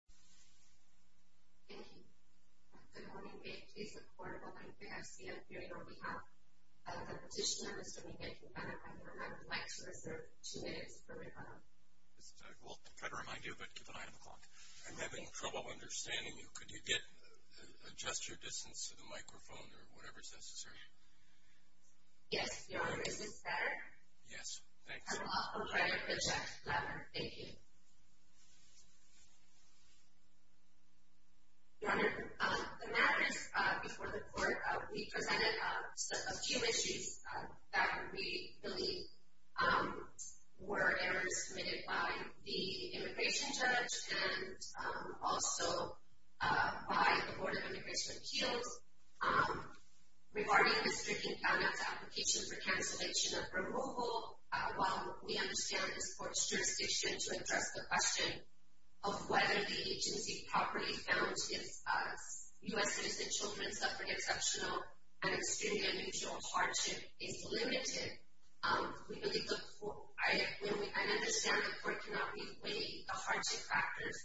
Thank you. Good morning, may it please the court, I'm going to ask you on behalf of the petitioner, Mr. Quintana-Payan, I would like to reserve two minutes for rebuttal. Well, I'm trying to remind you, but keep an eye on the clock. I'm having trouble understanding you. Could you adjust your distance to the microphone or whatever is necessary? Yes, Your Honor, is this better? Yes, thanks. I will offer credit to Judge Glamour. Thank you. Your Honor, the matters before the court, we presented a few issues that we believe were errors committed by the immigration judge and also by the Board of Immigration Appeals. Regarding Mr. Quintana's application for cancellation of removal, while we understand his court's jurisdiction to address the question of whether the agency properly found U.S. citizen children suffering exceptional and extremely unusual hardship is limited, I understand the court cannot re-weigh the hardship factors,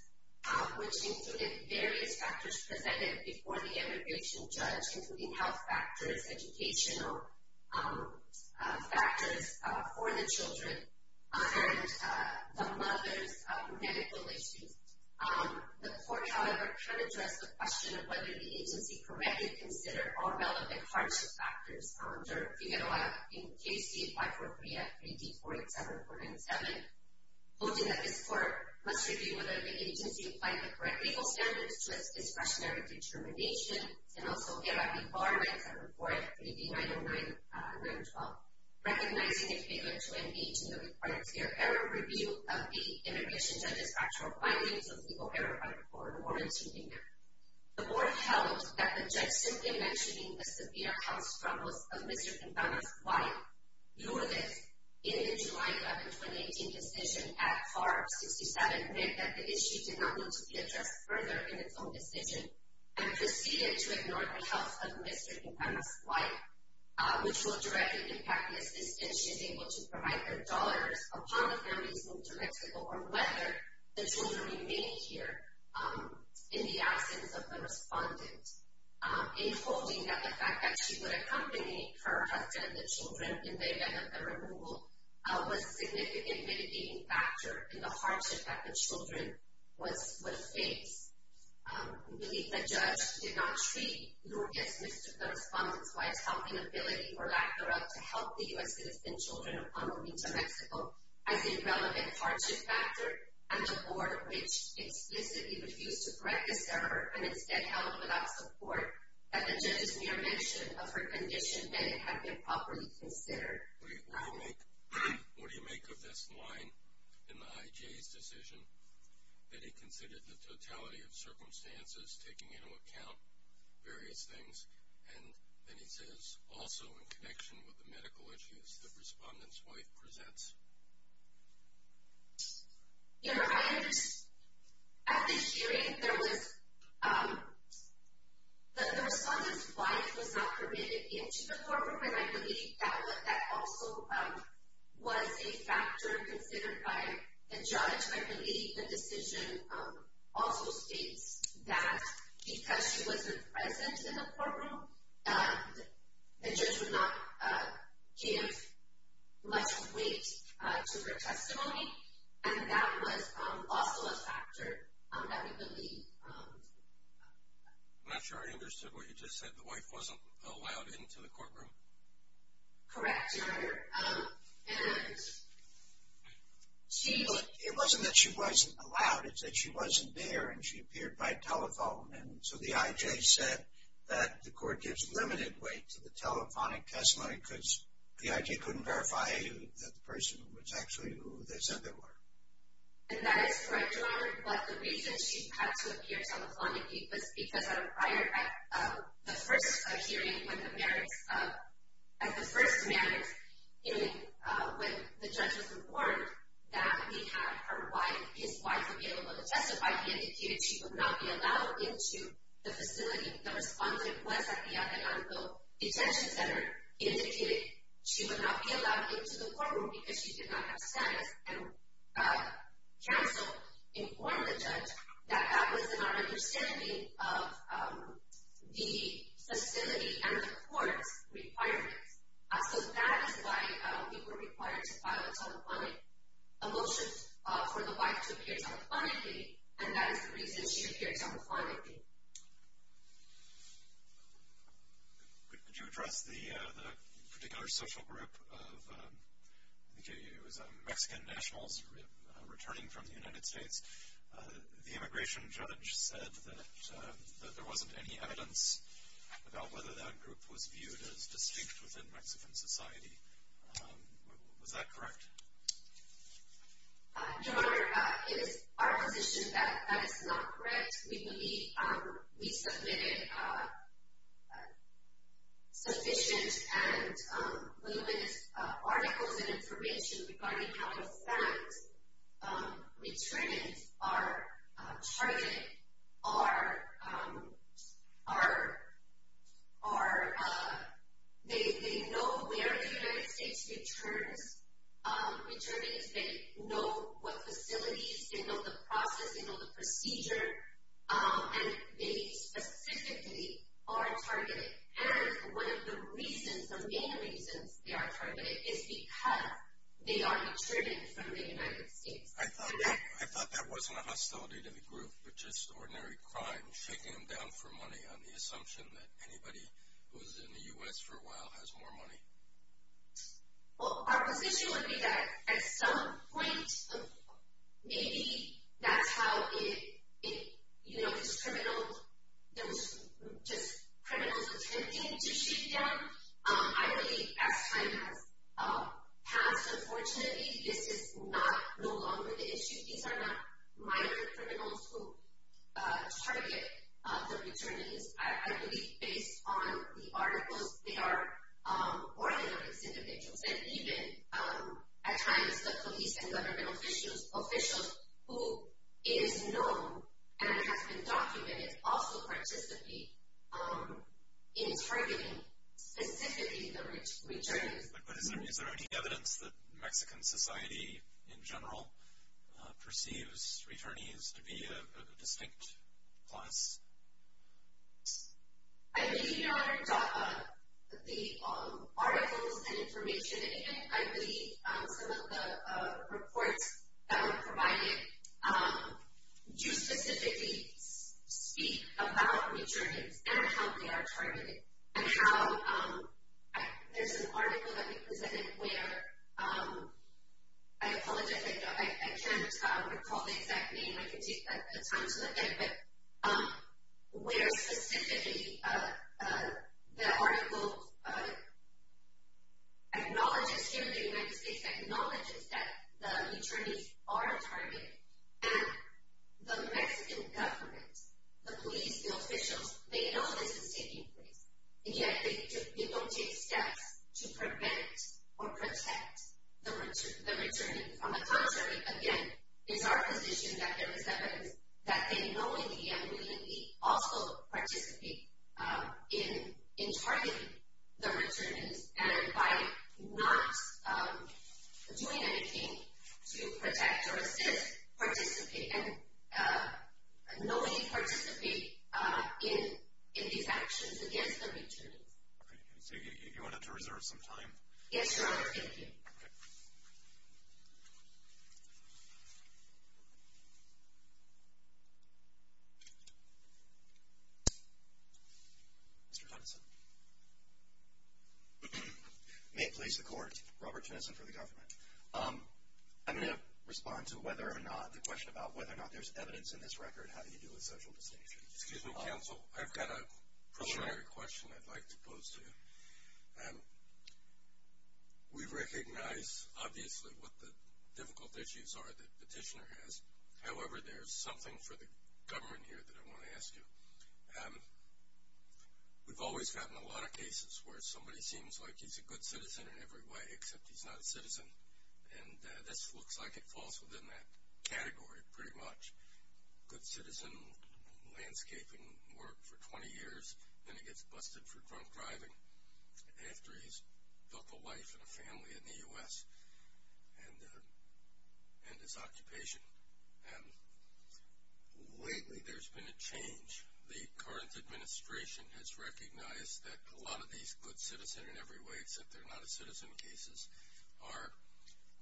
which included various factors presented before the immigration judge, and the mother's medical issues. The court, however, cannot address the question of whether the agency correctly considered all relevant hardship factors under Figaro Act in Case State 543 at 3D487.7, quoting that this court must review whether the agency applied the correct legal standards to its discretionary determination, and also Figaro Act 974 at 3D909.9.12, recognizing a failure to engage in the required fair error review of the immigration judge's actual findings of legal error by the court warranted in there. The board held that the judge simply mentioning the severe health struggles of Mr. Quintana's wife, Lourdes, in the July 11, 2018, decision at FAR 67 meant that the issue did not need to be addressed further in its own decision and proceeded to ignore the health of Mr. Quintana's wife, which will directly impact his decision if she is able to provide her daughters upon the family's move to Mexico, or whether the children remain here in the absence of the respondent, and quoting that the fact that she would accompany her husband and the children in the event of the removal was a significant mitigating factor in the hardship that the children would face. We believe the judge did not treat Lourdes, Mr. Quintana's wife's helping ability or lack thereof to help the U.S. citizen children upon their move to Mexico as a relevant hardship factor, and the board, which explicitly refused to correct this error and instead held without support that the judge's mere mention of her condition had been properly considered. What do you make of this line in the IJA's decision that he considered the totality of circumstances, taking into account various things, and that he says also in connection with the medical issues that the respondent's wife presents? At this hearing, the respondent's wife was not permitted into the courtroom, and I believe that also was a factor considered by the judge. I believe the decision also states that because she wasn't present in the courtroom, the judge would not give much weight to her testimony, and that was also a factor that we believe. I'm not sure I understood what you just said. The wife wasn't allowed into the courtroom? Correct, Your Honor. It wasn't that she wasn't allowed. It's that she wasn't there and she appeared by telephone, and so the IJA said that the court gives limited weight to the telephonic testimony because the IJA couldn't verify that the person was actually who they said they were. And that is correct, Your Honor, but the reason she had to appear telephonic was because at the first hearing when the judge was informed that he had his wife available to testify, he indicated she would not be allowed into the facility. The respondent was at the Atenango Detention Center. He indicated she would not be allowed into the courtroom because she did not have status, and counsel informed the judge that that was in our understanding of the facility and the court's requirements. So that is why we were required to file a telephonic motion for the wife to appear telephonically, and that is the reason she appeared telephonically. Thank you. Could you address the particular social group of Mexican nationals returning from the United States? The immigration judge said that there wasn't any evidence about whether that group was viewed as distinct within Mexican society. Was that correct? Your Honor, it is our position that that is not correct. We believe we submitted sufficient and luminous articles and information regarding how, in fact, returnees are targeted. They know where the United States returns returnees. They know what facilities. They know the process. They know the procedure, and they specifically are targeted. And one of the reasons, the main reasons they are targeted is because they are returning from the United States. I thought that wasn't a hostility to the group, but just ordinary crime, shaking them down for money on the assumption that anybody who is in the U.S. for a while has more money. Well, our position would be that at some point maybe that's how it, you know, just criminals attempting to shake down. I believe as time has passed, unfortunately, this is no longer the issue. These are not minor criminals who target the returnees. I believe based on the articles, they are ordinary individuals, and even at times the police and government officials who it is known and has been documented also participate in targeting specifically the returnees. But is there any evidence that Mexican society in general perceives returnees to be a distinct class? I believe, Your Honor, the articles and information, and I believe some of the reports that were provided, do specifically speak about returnees and how they are targeted and how there's an article that we presented where, I apologize, I can't recall the exact name, I can take the time to look at it, but where specifically the article acknowledges, here in the United States, acknowledges that the returnees are targeted, and the Mexican government, the police, the officials, they know this is taking place, yet they don't take steps to prevent or protect the returnees. On the contrary, again, it's our position that there is evidence that they knowingly and willingly also participate in targeting the returnees, and by not doing anything to protect or assist, and knowingly participate in these actions against the returnees. So you want to reserve some time? Yes, Your Honor, thank you. Mr. Tennyson. May it please the Court, Robert Tennyson for the government. I'm going to respond to whether or not, the question about whether or not there's evidence in this record, how do you deal with social distinctions? Excuse me, counsel, I've got a preliminary question I'd like to pose to you. We recognize, obviously, what the difficult issues are that Petitioner has. However, there's something for the government here that I want to ask you. We've always gotten a lot of cases where somebody seems like he's a good citizen in every way, except he's not a citizen, and this looks like it falls within that category, pretty much. Good citizen landscaping work for 20 years, then he gets busted for drunk driving after he's built a life and a family in the U.S. and his occupation. Lately, there's been a change. The current administration has recognized that a lot of these good citizen in every way, except they're not a citizen cases, are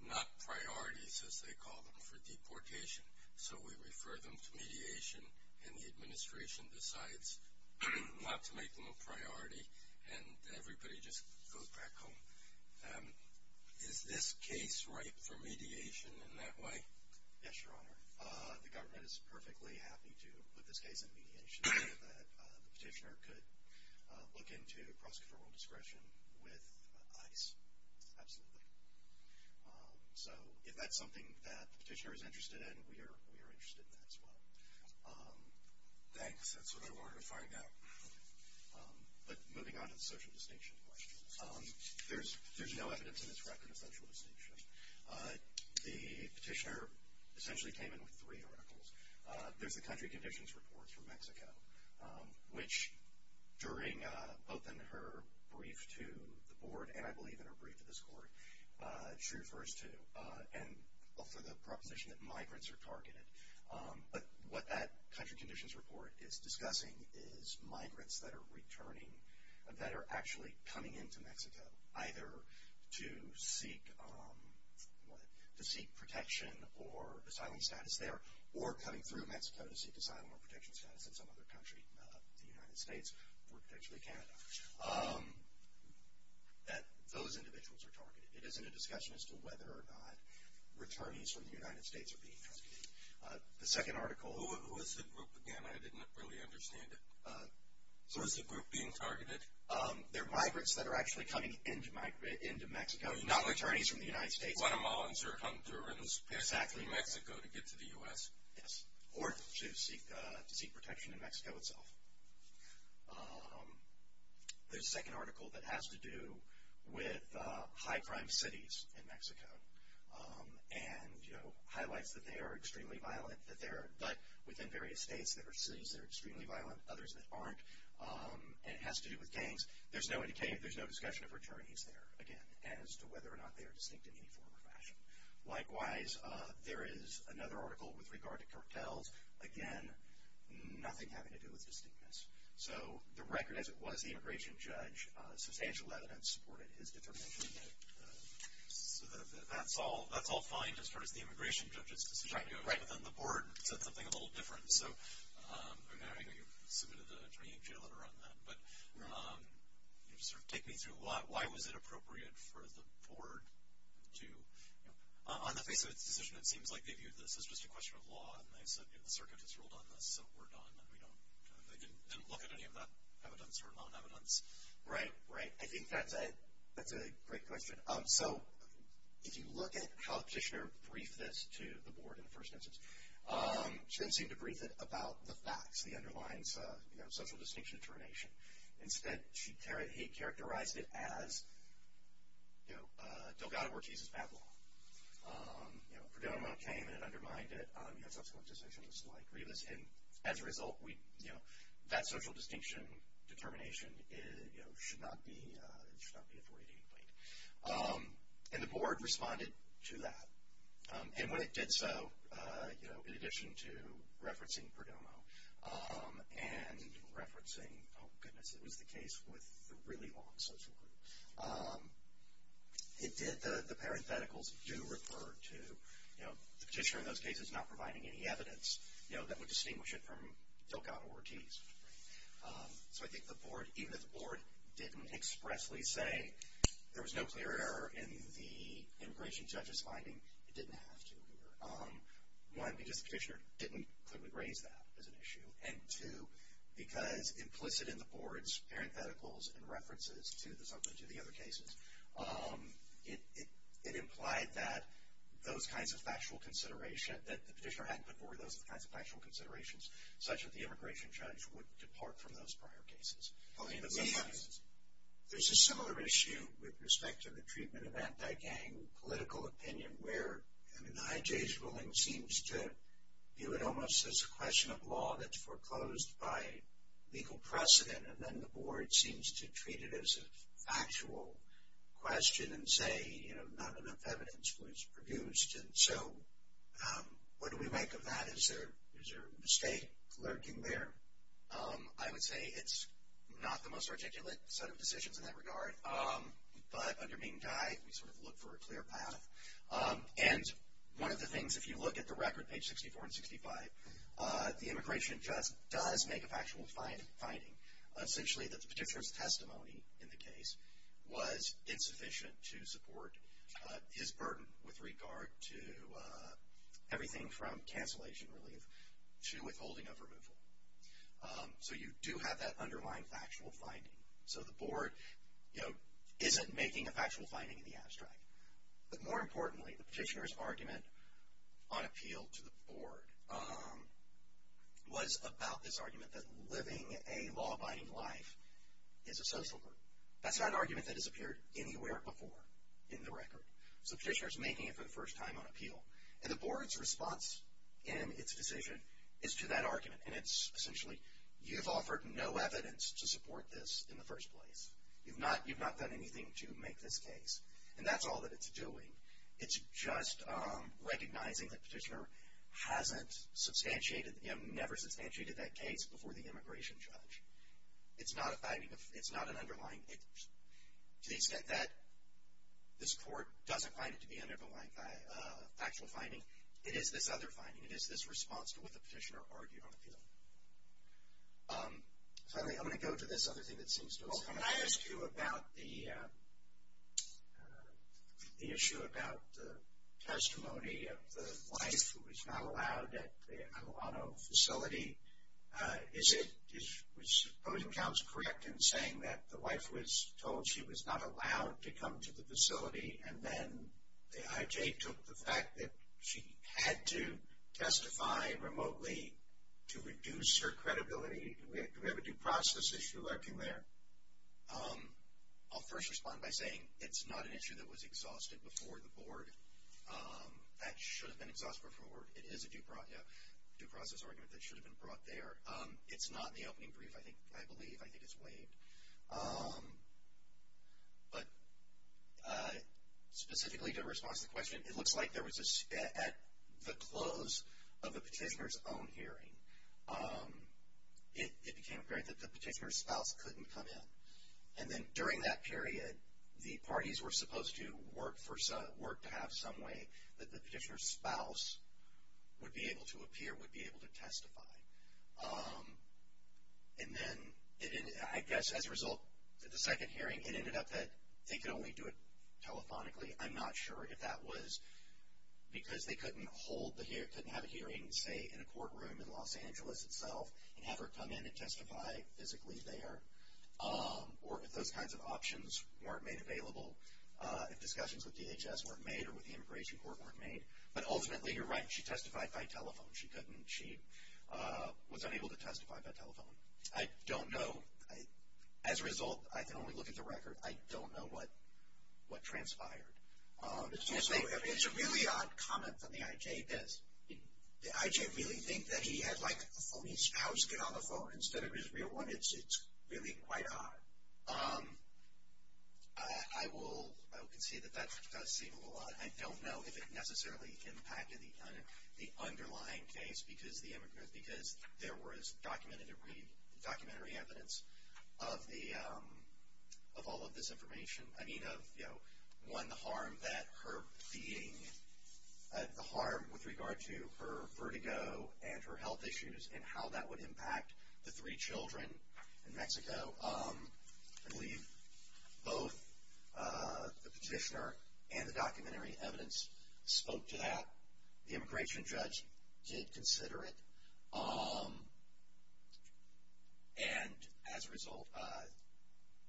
not priorities, as they call them, for deportation. So we refer them to mediation, and the administration decides not to make them a priority, and everybody just goes back home. Is this case ripe for mediation in that way? Yes, Your Honor. The Petitioner could look into prosecutorial discretion with ICE, absolutely. So if that's something that the Petitioner is interested in, we are interested in that as well. Thanks. That's what I wanted to find out. But moving on to the social distinction question. There's no evidence in this record of social distinction. The Petitioner essentially came in with three articles. There's the country conditions report for Mexico, which during both in her brief to the board, and I believe in her brief to this court, she refers to, and also the proposition that migrants are targeted. But what that country conditions report is discussing is migrants that are returning, that are actually coming into Mexico, either to seek protection or asylum status there, or coming through Mexico to seek asylum or protection status in some other country, the United States, or potentially Canada, that those individuals are targeted. It isn't a discussion as to whether or not returnees from the United States are being targeted. The second article. Who is the group again? I didn't really understand it. Who is the group being targeted? They're migrants that are actually coming into Mexico, not returnees from the United States. Guatemalans are coming through in Mexico to get to the U.S. Yes, or to seek protection in Mexico itself. The second article that has to do with high crime cities in Mexico, and highlights that they are extremely violent, but within various states there are cities that are extremely violent, others that aren't. And it has to do with gangs. There's no discussion of returnees there, again, as to whether or not they are distinct in any form or fashion. Likewise, there is another article with regard to cartels. Again, nothing having to do with distinctness. So the record as it was, the immigration judge, substantial evidence supported his determination. So that's all fine as far as the immigration judge's decision goes. Right. But then the board said something a little different. So I know you submitted a training letter on that. But take me through, why was it appropriate for the board to, on the face of its decision it seems like they viewed this as just a question of law, and they said the circuit has ruled on this, so we're done. They didn't look at any of that evidence or non-evidence. Right, right. I think that's a great question. So if you look at how the petitioner briefed this to the board in the first instance, she didn't seem to brief it about the facts, the underlying social distinction determination. Instead, he characterized it as Delgado Ortiz's bad law. You know, Cordelia Monroe came and undermined it. You have social distinctions like Rivas. And as a result, that social distinction determination should not be afforded any weight. And the board responded to that. And when it did so, in addition to referencing Perdomo and referencing, oh, goodness, it was the case with the really long social group, it did, the parentheticals do refer to, you know, the petitioner in those cases not providing any evidence, you know, that would distinguish it from Delgado Ortiz. So I think the board, even if the board didn't expressly say there was no clear error in the immigration judge's finding, it didn't have to here. One, because the petitioner didn't clearly raise that as an issue. And two, because implicit in the board's parentheticals and references to the subject of the other cases, it implied that those kinds of factual considerations, that the petitioner hadn't put forward those kinds of factual considerations, such that the immigration judge would depart from those prior cases. And there's a similar issue with respect to the treatment of anti-gang political opinion, where, I mean, the IJ's ruling seems to view it almost as a question of law that's foreclosed by legal precedent, and then the board seems to treat it as a factual question and say, you know, not enough evidence was produced. And so what do we make of that? Is there a mistake lurking there? I would say it's not the most articulate set of decisions in that regard. But under mean guide, we sort of look for a clear path. And one of the things, if you look at the record, page 64 and 65, the immigration judge does make a factual finding, essentially that the petitioner's testimony in the case was insufficient to support his burden with regard to everything from cancellation relief to withholding of removal. So you do have that underlying factual finding. So the board, you know, isn't making a factual finding in the abstract. But more importantly, the petitioner's argument on appeal to the board was about this argument that living a law-abiding life is a social good. That's not an argument that has appeared anywhere before in the record. So the petitioner's making it for the first time on appeal. And the board's response in its decision is to that argument. And it's essentially, you've offered no evidence to support this in the first place. You've not done anything to make this case. And that's all that it's doing. It's just recognizing that the petitioner hasn't substantiated, you know, never substantiated that case before the immigration judge. It's not an underlying, to the extent that this court doesn't find it to be an underlying factual finding. It is this other finding. It is this response to what the petitioner argued on appeal. Finally, I'm going to go to this other thing that seems to have come up. Can I ask you about the issue about the testimony of the wife who was not allowed at the Atalano facility? Is it, is opposing counsel correct in saying that the wife was told she was not allowed to come to the facility and then the IJ took the fact that she had to testify remotely to reduce her credibility? Do we have a due process issue lurking there? I'll first respond by saying it's not an issue that was exhausted before the board. That should have been exhausted before. It is a due process argument that should have been brought there. It's not in the opening brief, I believe. I think it's waived. But specifically to respond to the question, it looks like there was a, at the close of the petitioner's own hearing, it became apparent that the petitioner's spouse couldn't come in. And then during that period, the parties were supposed to work to have some way that the petitioner's spouse would be able to appear, would be able to testify. And then I guess as a result, the second hearing, it ended up that they could only do it telephonically. I'm not sure if that was because they couldn't hold the hearing, couldn't have a hearing, say, in a courtroom in Los Angeles itself and have her come in and testify physically there, or if those kinds of options weren't made available, if discussions with DHS weren't made or with the immigration court weren't made. But ultimately, you're right, she testified by telephone. She was unable to testify by telephone. I don't know. As a result, I can only look at the record. I don't know what transpired. It's a really odd comment from the IJ, because the IJ really think that he had, like, a phony spouse get on the phone instead of his real one. It's really quite odd. I will concede that that does seem a little odd. I don't know if it necessarily impacted the underlying case because there was documentary evidence of all of this information. I mean, one, the harm with regard to her vertigo and her health issues and how that would impact the three children in Mexico. I believe both the petitioner and the documentary evidence spoke to that. The immigration judge did consider it. And as a result,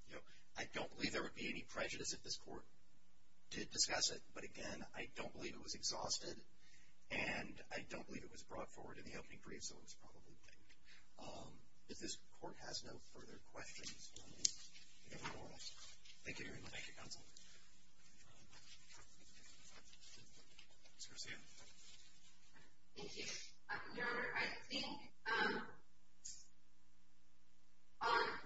you know, I don't believe there would be any prejudice if this court did discuss it. But, again, I don't believe it was exhausted, and I don't believe it was brought forward in the opening brief, so it was probably thanked. If this court has no further questions, we'll move on. Thank you very much. Thank you, counsel. Ms. Garcia. Thank you. Your Honor, I think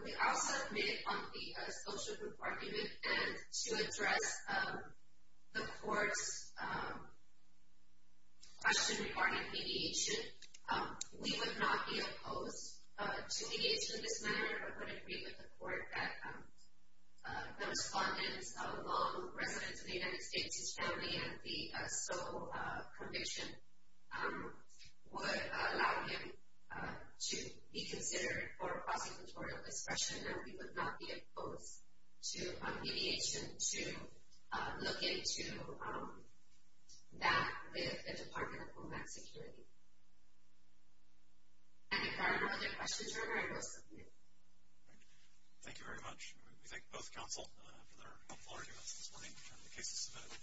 we also made it on the social group argument. And to address the court's question regarding mediation, we would not be opposed to mediation in this manner. I would agree with the court that the respondents, along with residents of the United States, his family, and the sole conviction would allow him to be considered for prosecutorial discretion. And we would not be opposed to mediation to look into that with the Department of Homeland Security. If there are no other questions, Your Honor, I will submit. Thank you very much. We thank both counsel for their helpful arguments this morning to determine the case to submit.